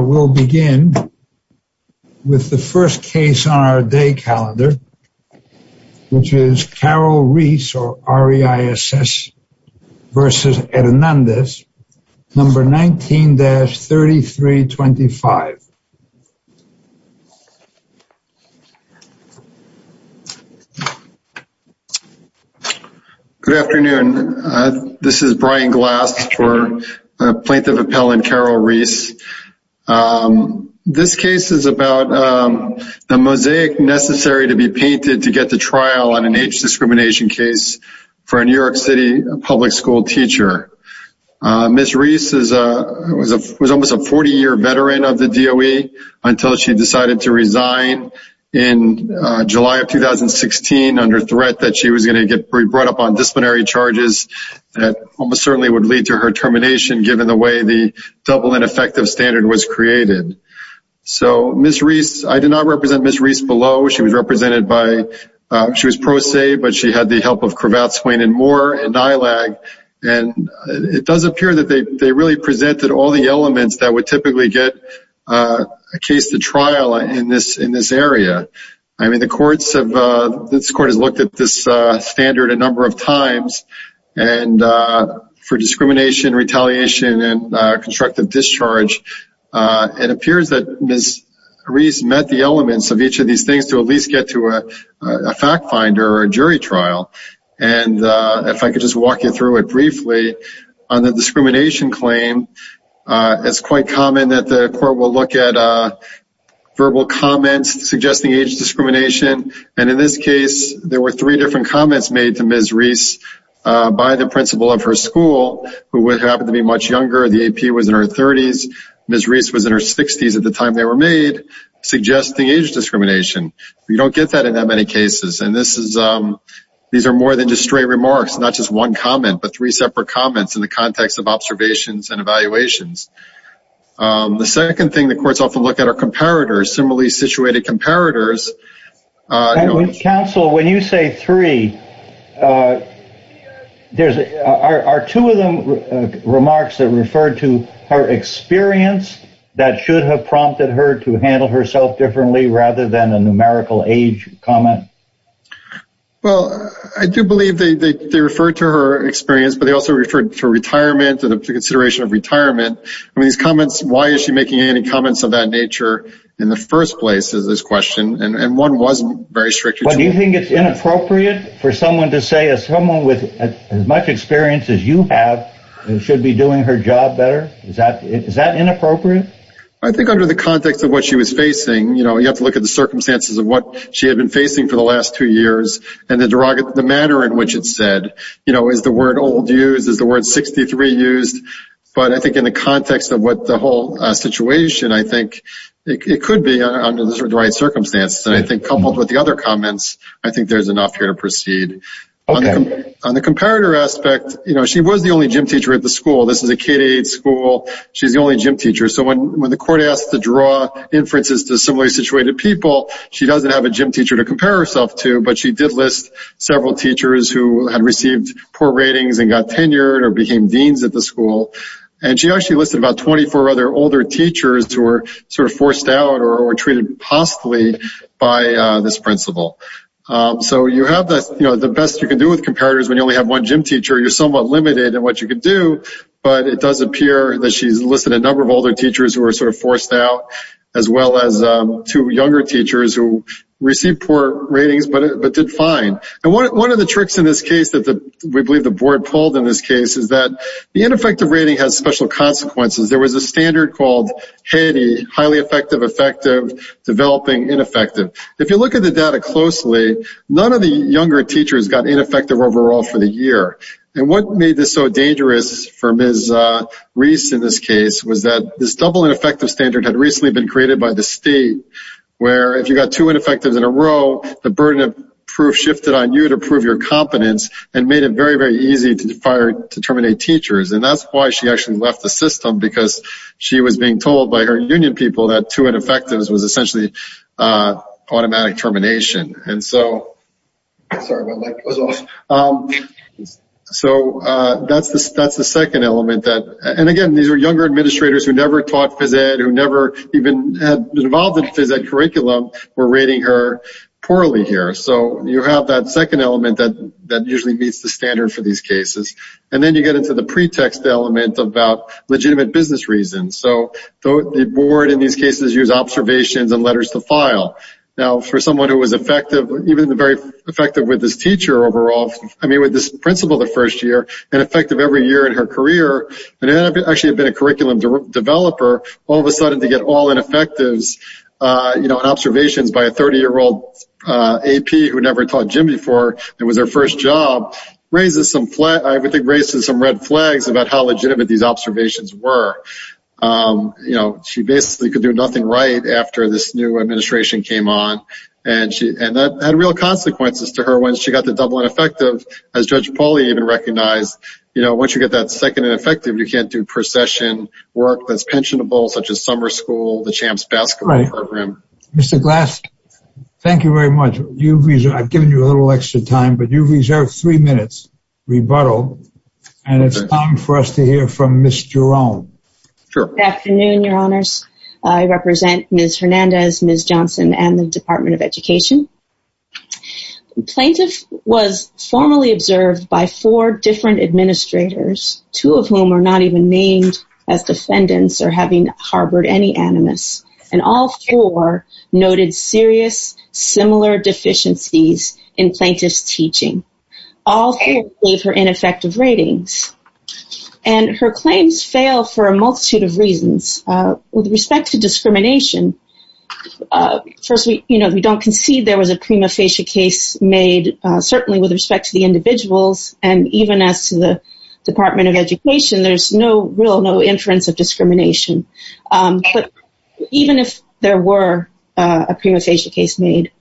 will begin with the first case on our day calendar which is Carol Reiss or R-E-I-S-S versus Hernandez, number 19-3325 Good afternoon, this is Brian Glass for Plaintiff Appellant Carol Reiss. This case is about the mosaic necessary to be painted to get the trial on an age discrimination case for a New York City public school teacher. Ms. Reiss was almost a 40-year veteran of the DOE until she decided to resign in July of 2016 under threat that she was going to get brought up on disciplinary charges that almost certainly would lead to her given the way the double ineffective standard was created. So Ms. Reiss, I did not represent Ms. Reiss below, she was represented by, she was pro se but she had the help of Cravath, Swain & Moore and NILAG and it does appear that they they really presented all the elements that would typically get a case to trial in this in this area. I mean the courts have, this court has looked at this standard a number of times and for discrimination, retaliation and constructive discharge it appears that Ms. Reiss met the elements of each of these things to at least get to a fact finder or a jury trial and if I could just walk you through it briefly on the discrimination claim it's quite common that the court will look at verbal comments suggesting age discrimination and in this case there were three different comments made to Ms. Reiss by the principal of her school who would happen to be much younger, the AP was in her 30s, Ms. Reiss was in her 60s at the time they were made, suggesting age discrimination. We don't get that in that many cases and this is, these are more than just straight remarks, not just one comment but three separate comments in the context of observations and evaluations. The second thing the courts often look at are comparators, similarly situated comparators. Counsel, when you say three, there's, are two of them remarks that refer to her experience that should have prompted her to handle herself differently rather than a numerical age comment? Well I do believe they refer to her experience but they also referred to retirement or the consideration of retirement. I mean these three comments of that nature in the first place is this question and one wasn't very strict. Do you think it's inappropriate for someone to say as someone with as much experience as you have and should be doing her job better is that, is that inappropriate? I think under the context of what she was facing you know you have to look at the circumstances of what she had been facing for the last two years and the derogatory, the manner in which it's said you know is the word old used, is the word 63 used but I think in the context of what the whole situation I think it could be under the right circumstances and I think coupled with the other comments I think there's enough here to proceed. On the comparator aspect you know she was the only gym teacher at the school, this is a K-8 school, she's the only gym teacher so when when the court asked to draw inferences to similarly situated people she doesn't have a gym teacher to compare herself to but she did list several teachers who had received poor ratings and got tenured or became deans at the school and she actually listed about 24 other older teachers who were sort of forced out or treated possibly by this principle. So you have this you know the best you can do with comparators when you only have one gym teacher you're somewhat limited in what you could do but it does appear that she's listed a number of older teachers who are sort of forced out as well as two younger teachers who received poor ratings but it did fine and one of the tricks in this case that the we believe the board pulled in this case is that the ineffective rating has special consequences there was a standard called highly effective effective developing ineffective. If you look at the data closely none of the younger teachers got ineffective overall for the year and what made this so dangerous for Ms. Reese in this case was that this double ineffective standard had recently been created by the state where if you got two ineffectives in a row the burden of proof shifted on you to prove your competence and made it very very easy to terminate teachers and that's why she actually left the system because she was being told by her union people that two ineffectives was essentially automatic termination and so so that's the that's the second element that and again these are younger administrators who never taught phys ed who never even had involved in phys ed curriculum were rating her poorly here so you have that second element that that usually meets the standard for these cases and then you get into the pretext element about legitimate business reasons so the board in these cases use observations and letters to file now for someone who was effective even the very effective with this teacher overall I mean with this principal the first year and effective every year in her career and then I've actually been a curriculum developer all of a sudden to get all ineffectives you know observations by a 30 year old AP who never taught Jim before it was her first job raises some flat I would think races some red flags about how legitimate these observations were you know she basically could do nothing right after this new administration came on and she and that had real consequences to her when she got the double ineffective as judge Pauly even recognized you know once you get that second and effective you can't do procession work that's pensionable such as summer school the champs basketball program mr. glass thank you very much you reason I've given you a little extra time but you reserve three minutes rebuttal and it's time for us to hear from mr. own afternoon your honors I represent miss Hernandez miss Johnson and the Department of Education plaintiff was formally observed by four different administrators two of whom are not even named as defendants or having harbored any animus and all four noted serious similar deficiencies in plaintiffs teaching all gave her ineffective ratings and her claims fail for a multitude of reasons with respect to discrimination first we you know we don't concede there was a prima facie case made certainly with respect to the individuals and even as to the Department of Education there's no real no inference of discrimination but even if there were a prima facie case made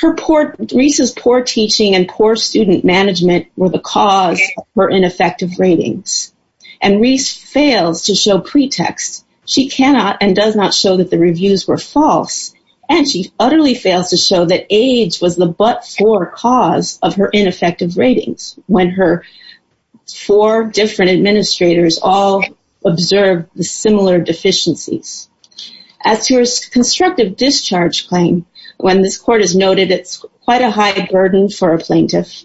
her port Reese's poor teaching and poor student management were the cause were ineffective ratings and Reese fails to show pretext she cannot and does not show that the reviews were false and she utterly fails to show that age was the but for cause of her ineffective ratings when her four different administrators all observed the similar deficiencies as to her constructive discharge claim when this court is noted it's quite a high burden for a plaintiff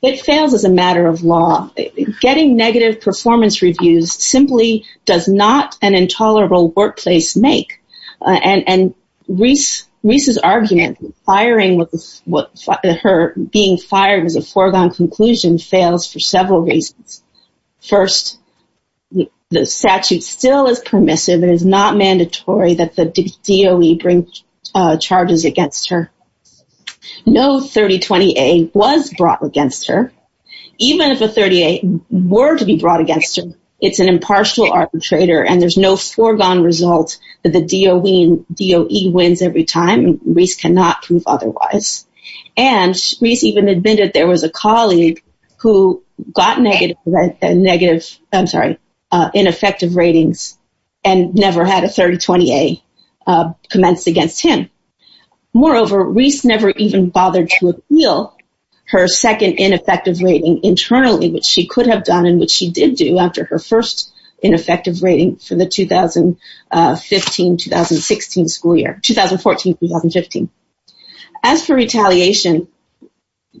it fails as a matter of law getting negative performance reviews simply does not an intolerable workplace make and and Reese Reese's argument firing with what her being fired as a foregone conclusion fails for several reasons first the statute still is permissive it is not mandatory that the DOE bring charges against her no 3028 was brought against her even if a 38 were to be brought against her it's an impartial arbitrator and there's no foregone result that the even admitted there was a colleague who got negative negative I'm sorry ineffective ratings and never had a 3028 commenced against him moreover Reese never even bothered to appeal her second ineffective rating internally which she could have done in which she did do after her first ineffective rating for 2015-2016 school year 2014-2015 as for retaliation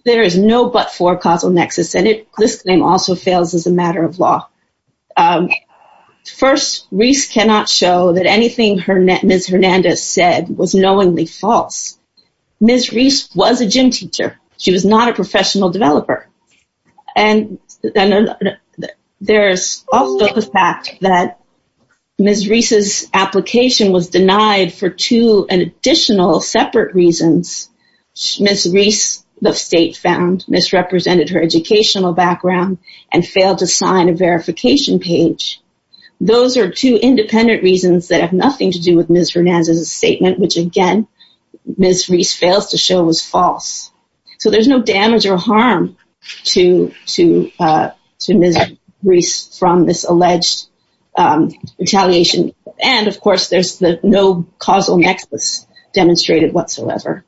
there is no but for causal nexus and it this claim also fails as a matter of law first Reese cannot show that anything her net miss Hernandez said was knowingly false miss Reese was a gym teacher she was not a professional developer and then there's the fact that miss Reese's application was denied for two an additional separate reasons miss Reese the state found misrepresented her educational background and failed to sign a verification page those are two independent reasons that have nothing to do with misery as a statement which again miss Reese fails to show was false so there's no damage or harm to to to Reese from this alleged retaliation and of course there's the no causal nexus demonstrated whatsoever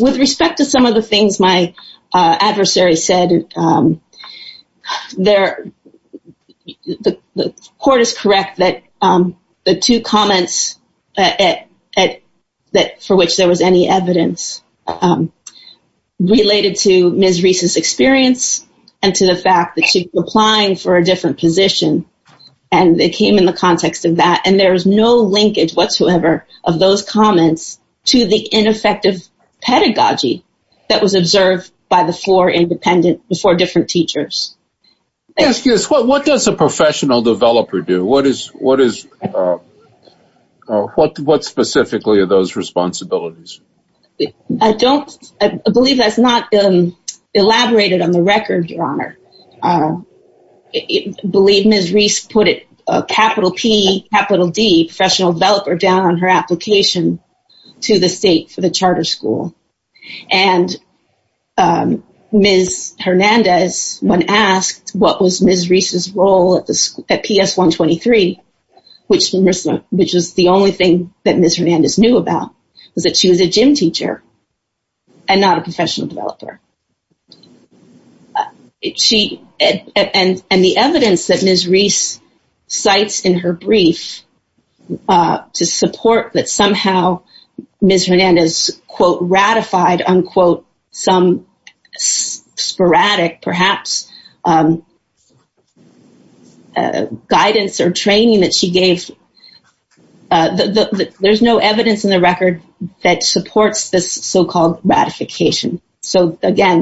with respect to some of the things my adversary said there the court is correct that the two comments at that for which there was any evidence related to experience and to the fact that she's applying for a different position and they came in the context of that and there's no linkage whatsoever of those comments to the ineffective pedagogy that was observed by the floor independent before different teachers what does a professional developer do what is what is what what specifically of those responsibilities I don't believe that's not been elaborated on the record your honor I believe miss Reese put it capital P capital D professional developer down on her application to the state for the charter school and miss Hernandez when asked what was miss Reese's role at the school at PS 123 which which is the only thing that miss Hernandez knew about is that she was a gym teacher and not a professional developer it she and and the evidence that miss Reese cites in her brief to support that somehow miss Hernandez quote ratified unquote some sporadic perhaps guidance or training that she gave the there's no evidence in the record that supports this so-called ratification so again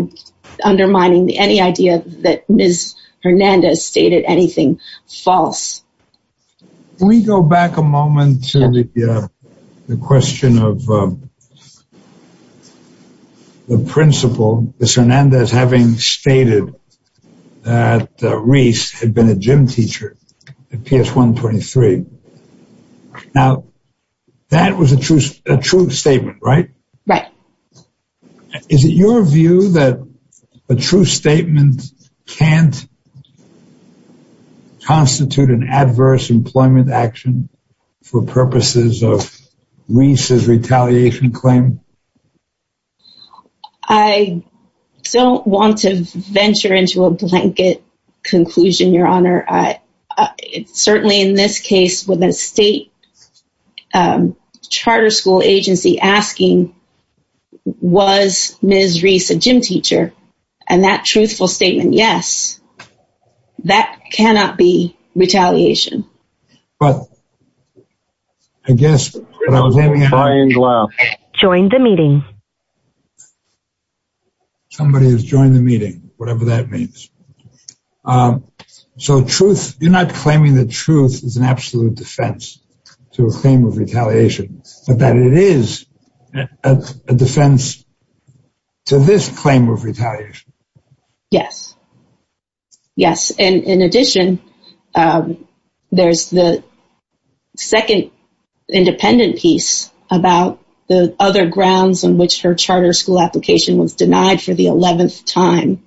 undermining the any idea that miss Hernandez stated anything false we go back a moment to the question of the principal miss Hernandez having stated that Reese had been a gym teacher at PS 123 now that was a truce a true statement right right is it your view that a true statement can't constitute an adverse employment action for purposes of Reese's retaliation claim I don't want to venture into a blanket conclusion your honor it's certainly in this case with a state charter school agency asking was Reese a gym teacher and that truthful statement yes that cannot be retaliation but I guess join the meeting somebody has joined the meeting whatever that means so truth you're not claiming the truth is an absolute defense to a claim of retaliation but that it is a defense to this claim of retaliation yes yes and in addition there's the second independent piece about the other grounds on which her charter school application was denied for the 11th time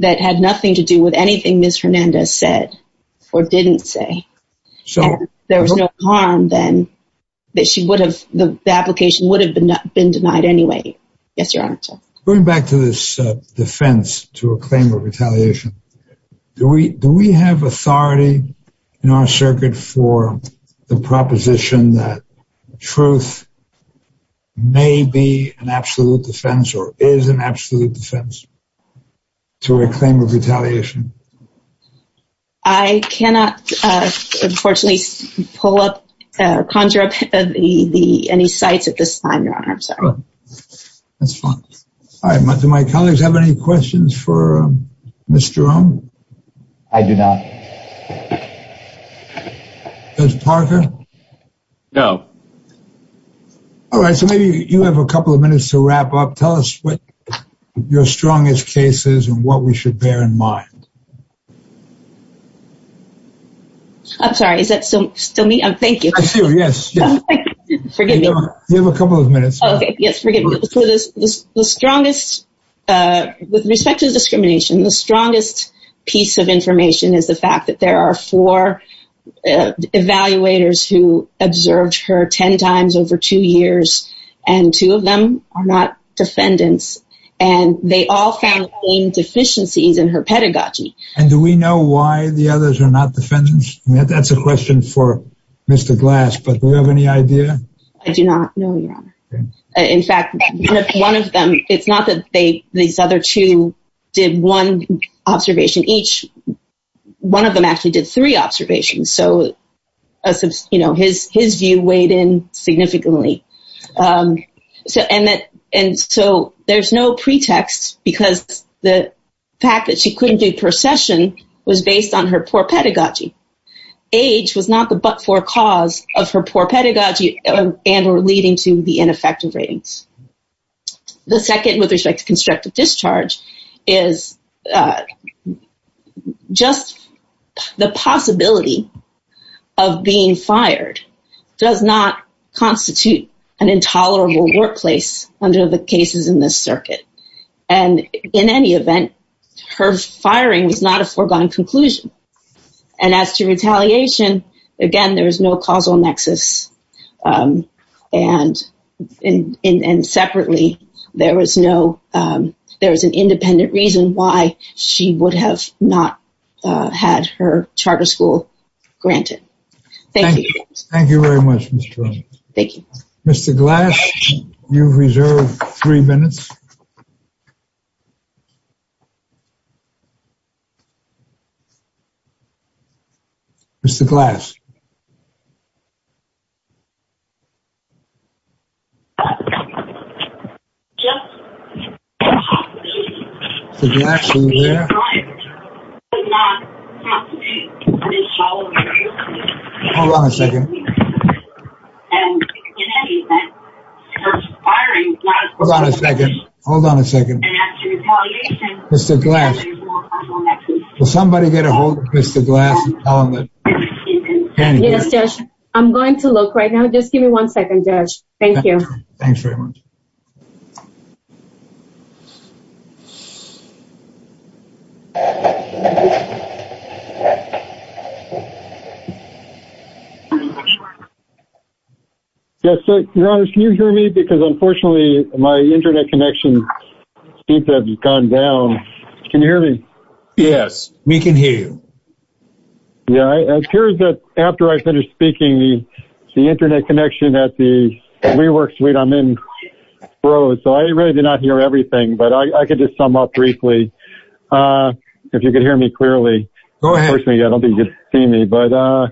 that had nothing to do with anything miss Hernandez said or didn't say so there was no harm then that she would have the application would have been not been denied anyway yes your honor going back to this defense to a claim of retaliation do we do we have authority in our circuit for the proposition that truth may be an absolute defense or is an absolute defense to a claim of conjure up any sites at this time your honor I'm sorry that's fine I'm up to my colleagues have any questions for mr. oh I do not does Parker know all right so maybe you have a couple of minutes to wrap up tell us what your strongest cases and what we should bear in mind I'm sorry is that so still me I'm thank you I see you yes yes forgive me you have a couple of minutes okay yes forget this strongest with respect to the discrimination the strongest piece of information is the fact that there are four evaluators who observed her ten times over two years and two of them are not defendants and they all found in deficiencies in her pedagogy and do we know why the others are not defendants yeah that's a question for mr. glass but we have any idea I do not know in fact one of them it's not that they these other two did one observation each one of them actually did three observations so you know his his view weighed in significantly so and that and so there's no pretext because the fact that she couldn't do procession was based on her pedagogy age was not the but for cause of her poor pedagogy and were leading to the ineffective ratings the second with respect to constructive discharge is just the possibility of being fired does not constitute an intolerable workplace under the cases in this circuit and in any event her firing was not a foregone conclusion and as to retaliation again there was no causal nexus and in and separately there was no there was an independent reason why she would have not had her charter school granted thank you thank you very much thank you mr. glass you reserved three minutes mr. glass hold on a second hold on a second mr. glass somebody get a hold mr. glass I'm going to look right now just give me one second judge thank you thanks very much yes your honor can you hear me because unfortunately my internet connection seems to have gone down can you hear me yes we can hear you yeah I heard that after I finished speaking the internet connection at the rework suite I'm in bro so I really did not hear everything but I could just sum up briefly if you could hear me clearly personally I don't think you see me but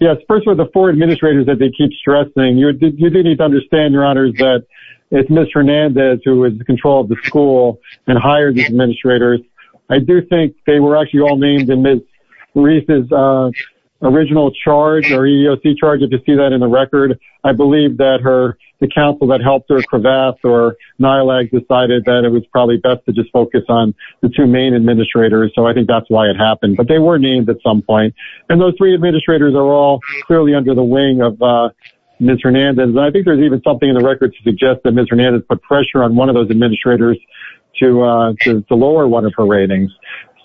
yes first of the four administrators that they keep stressing you need to understand your honors that it's mr. Nandez who is the control of the school and hire these administrators I do think they were actually all named in this Reese's original charge or EEOC charge if you see that in the record I believe that her the council that helped her crevasse or nylag decided that it was probably best to just focus on the two main administrators so I think that's why it happened but they were named at some point and those three administrators are all clearly under the wing of mr. Nandez I think there's even something in the record to suggest that mr. Nandez put pressure on one of those administrators to the lower one of her ratings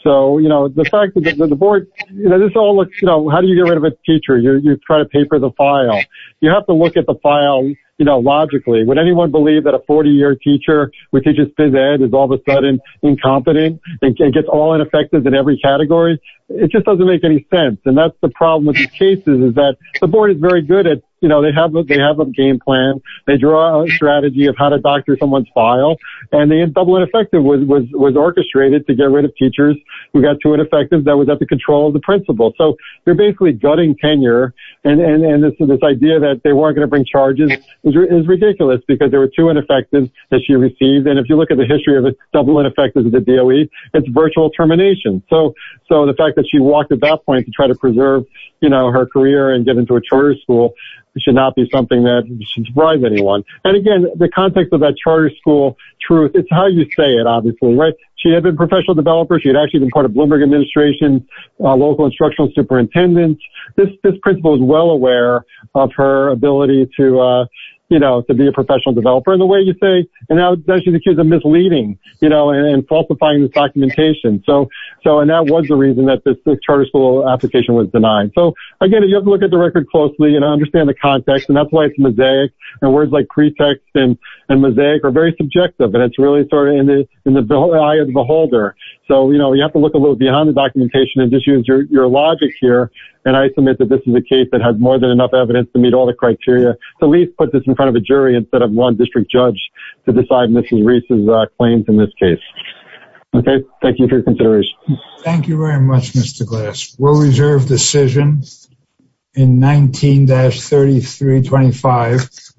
so you know the fact that the board you know this all looks you know how do you get rid of a teacher you try to paper the file you have to look at the file you know logically would anyone believe that a 40 year teacher which he just did that is all of a sudden incompetent it gets all ineffective in every category it just doesn't make any sense and that's the problem with these cases is that the board is very good at you know they have what they have a game plan they draw a strategy of how to doctor someone's file and the double ineffective was orchestrated to get rid of teachers who got to it effective that was at the control of the principal so they're basically gutting tenure and and and this is this idea that they weren't going to bring charges is ridiculous because there were two ineffective that she received and if you look at the history of a double ineffective the DOE it's virtual termination so so the fact that she walked at that point to try to preserve you know her career and get into a charter school should not be something that should surprise anyone and again the context of that charter school truth it's how you say it obviously right she had been professional developer she had actually been part of Bloomberg administration local instructional superintendents this principal is well aware of her ability to you know to be a professional developer in the way you say and now she's accused of misleading you know and falsifying the documentation so so and that was the reason that this charter school application was denied so again you have to look at the record closely and understand the context and that's why it's mosaic and words like pretext and and mosaic are very subjective but it's really sort of in the eye of the on the documentation and just use your logic here and I submit that this is a case that has more than enough evidence to meet all the criteria the least put this in front of a jury instead of one district judge to decide mrs. Reese's claims in this case okay thank you for your consideration thank you very much mr. glass will reserve decisions in 19-33 25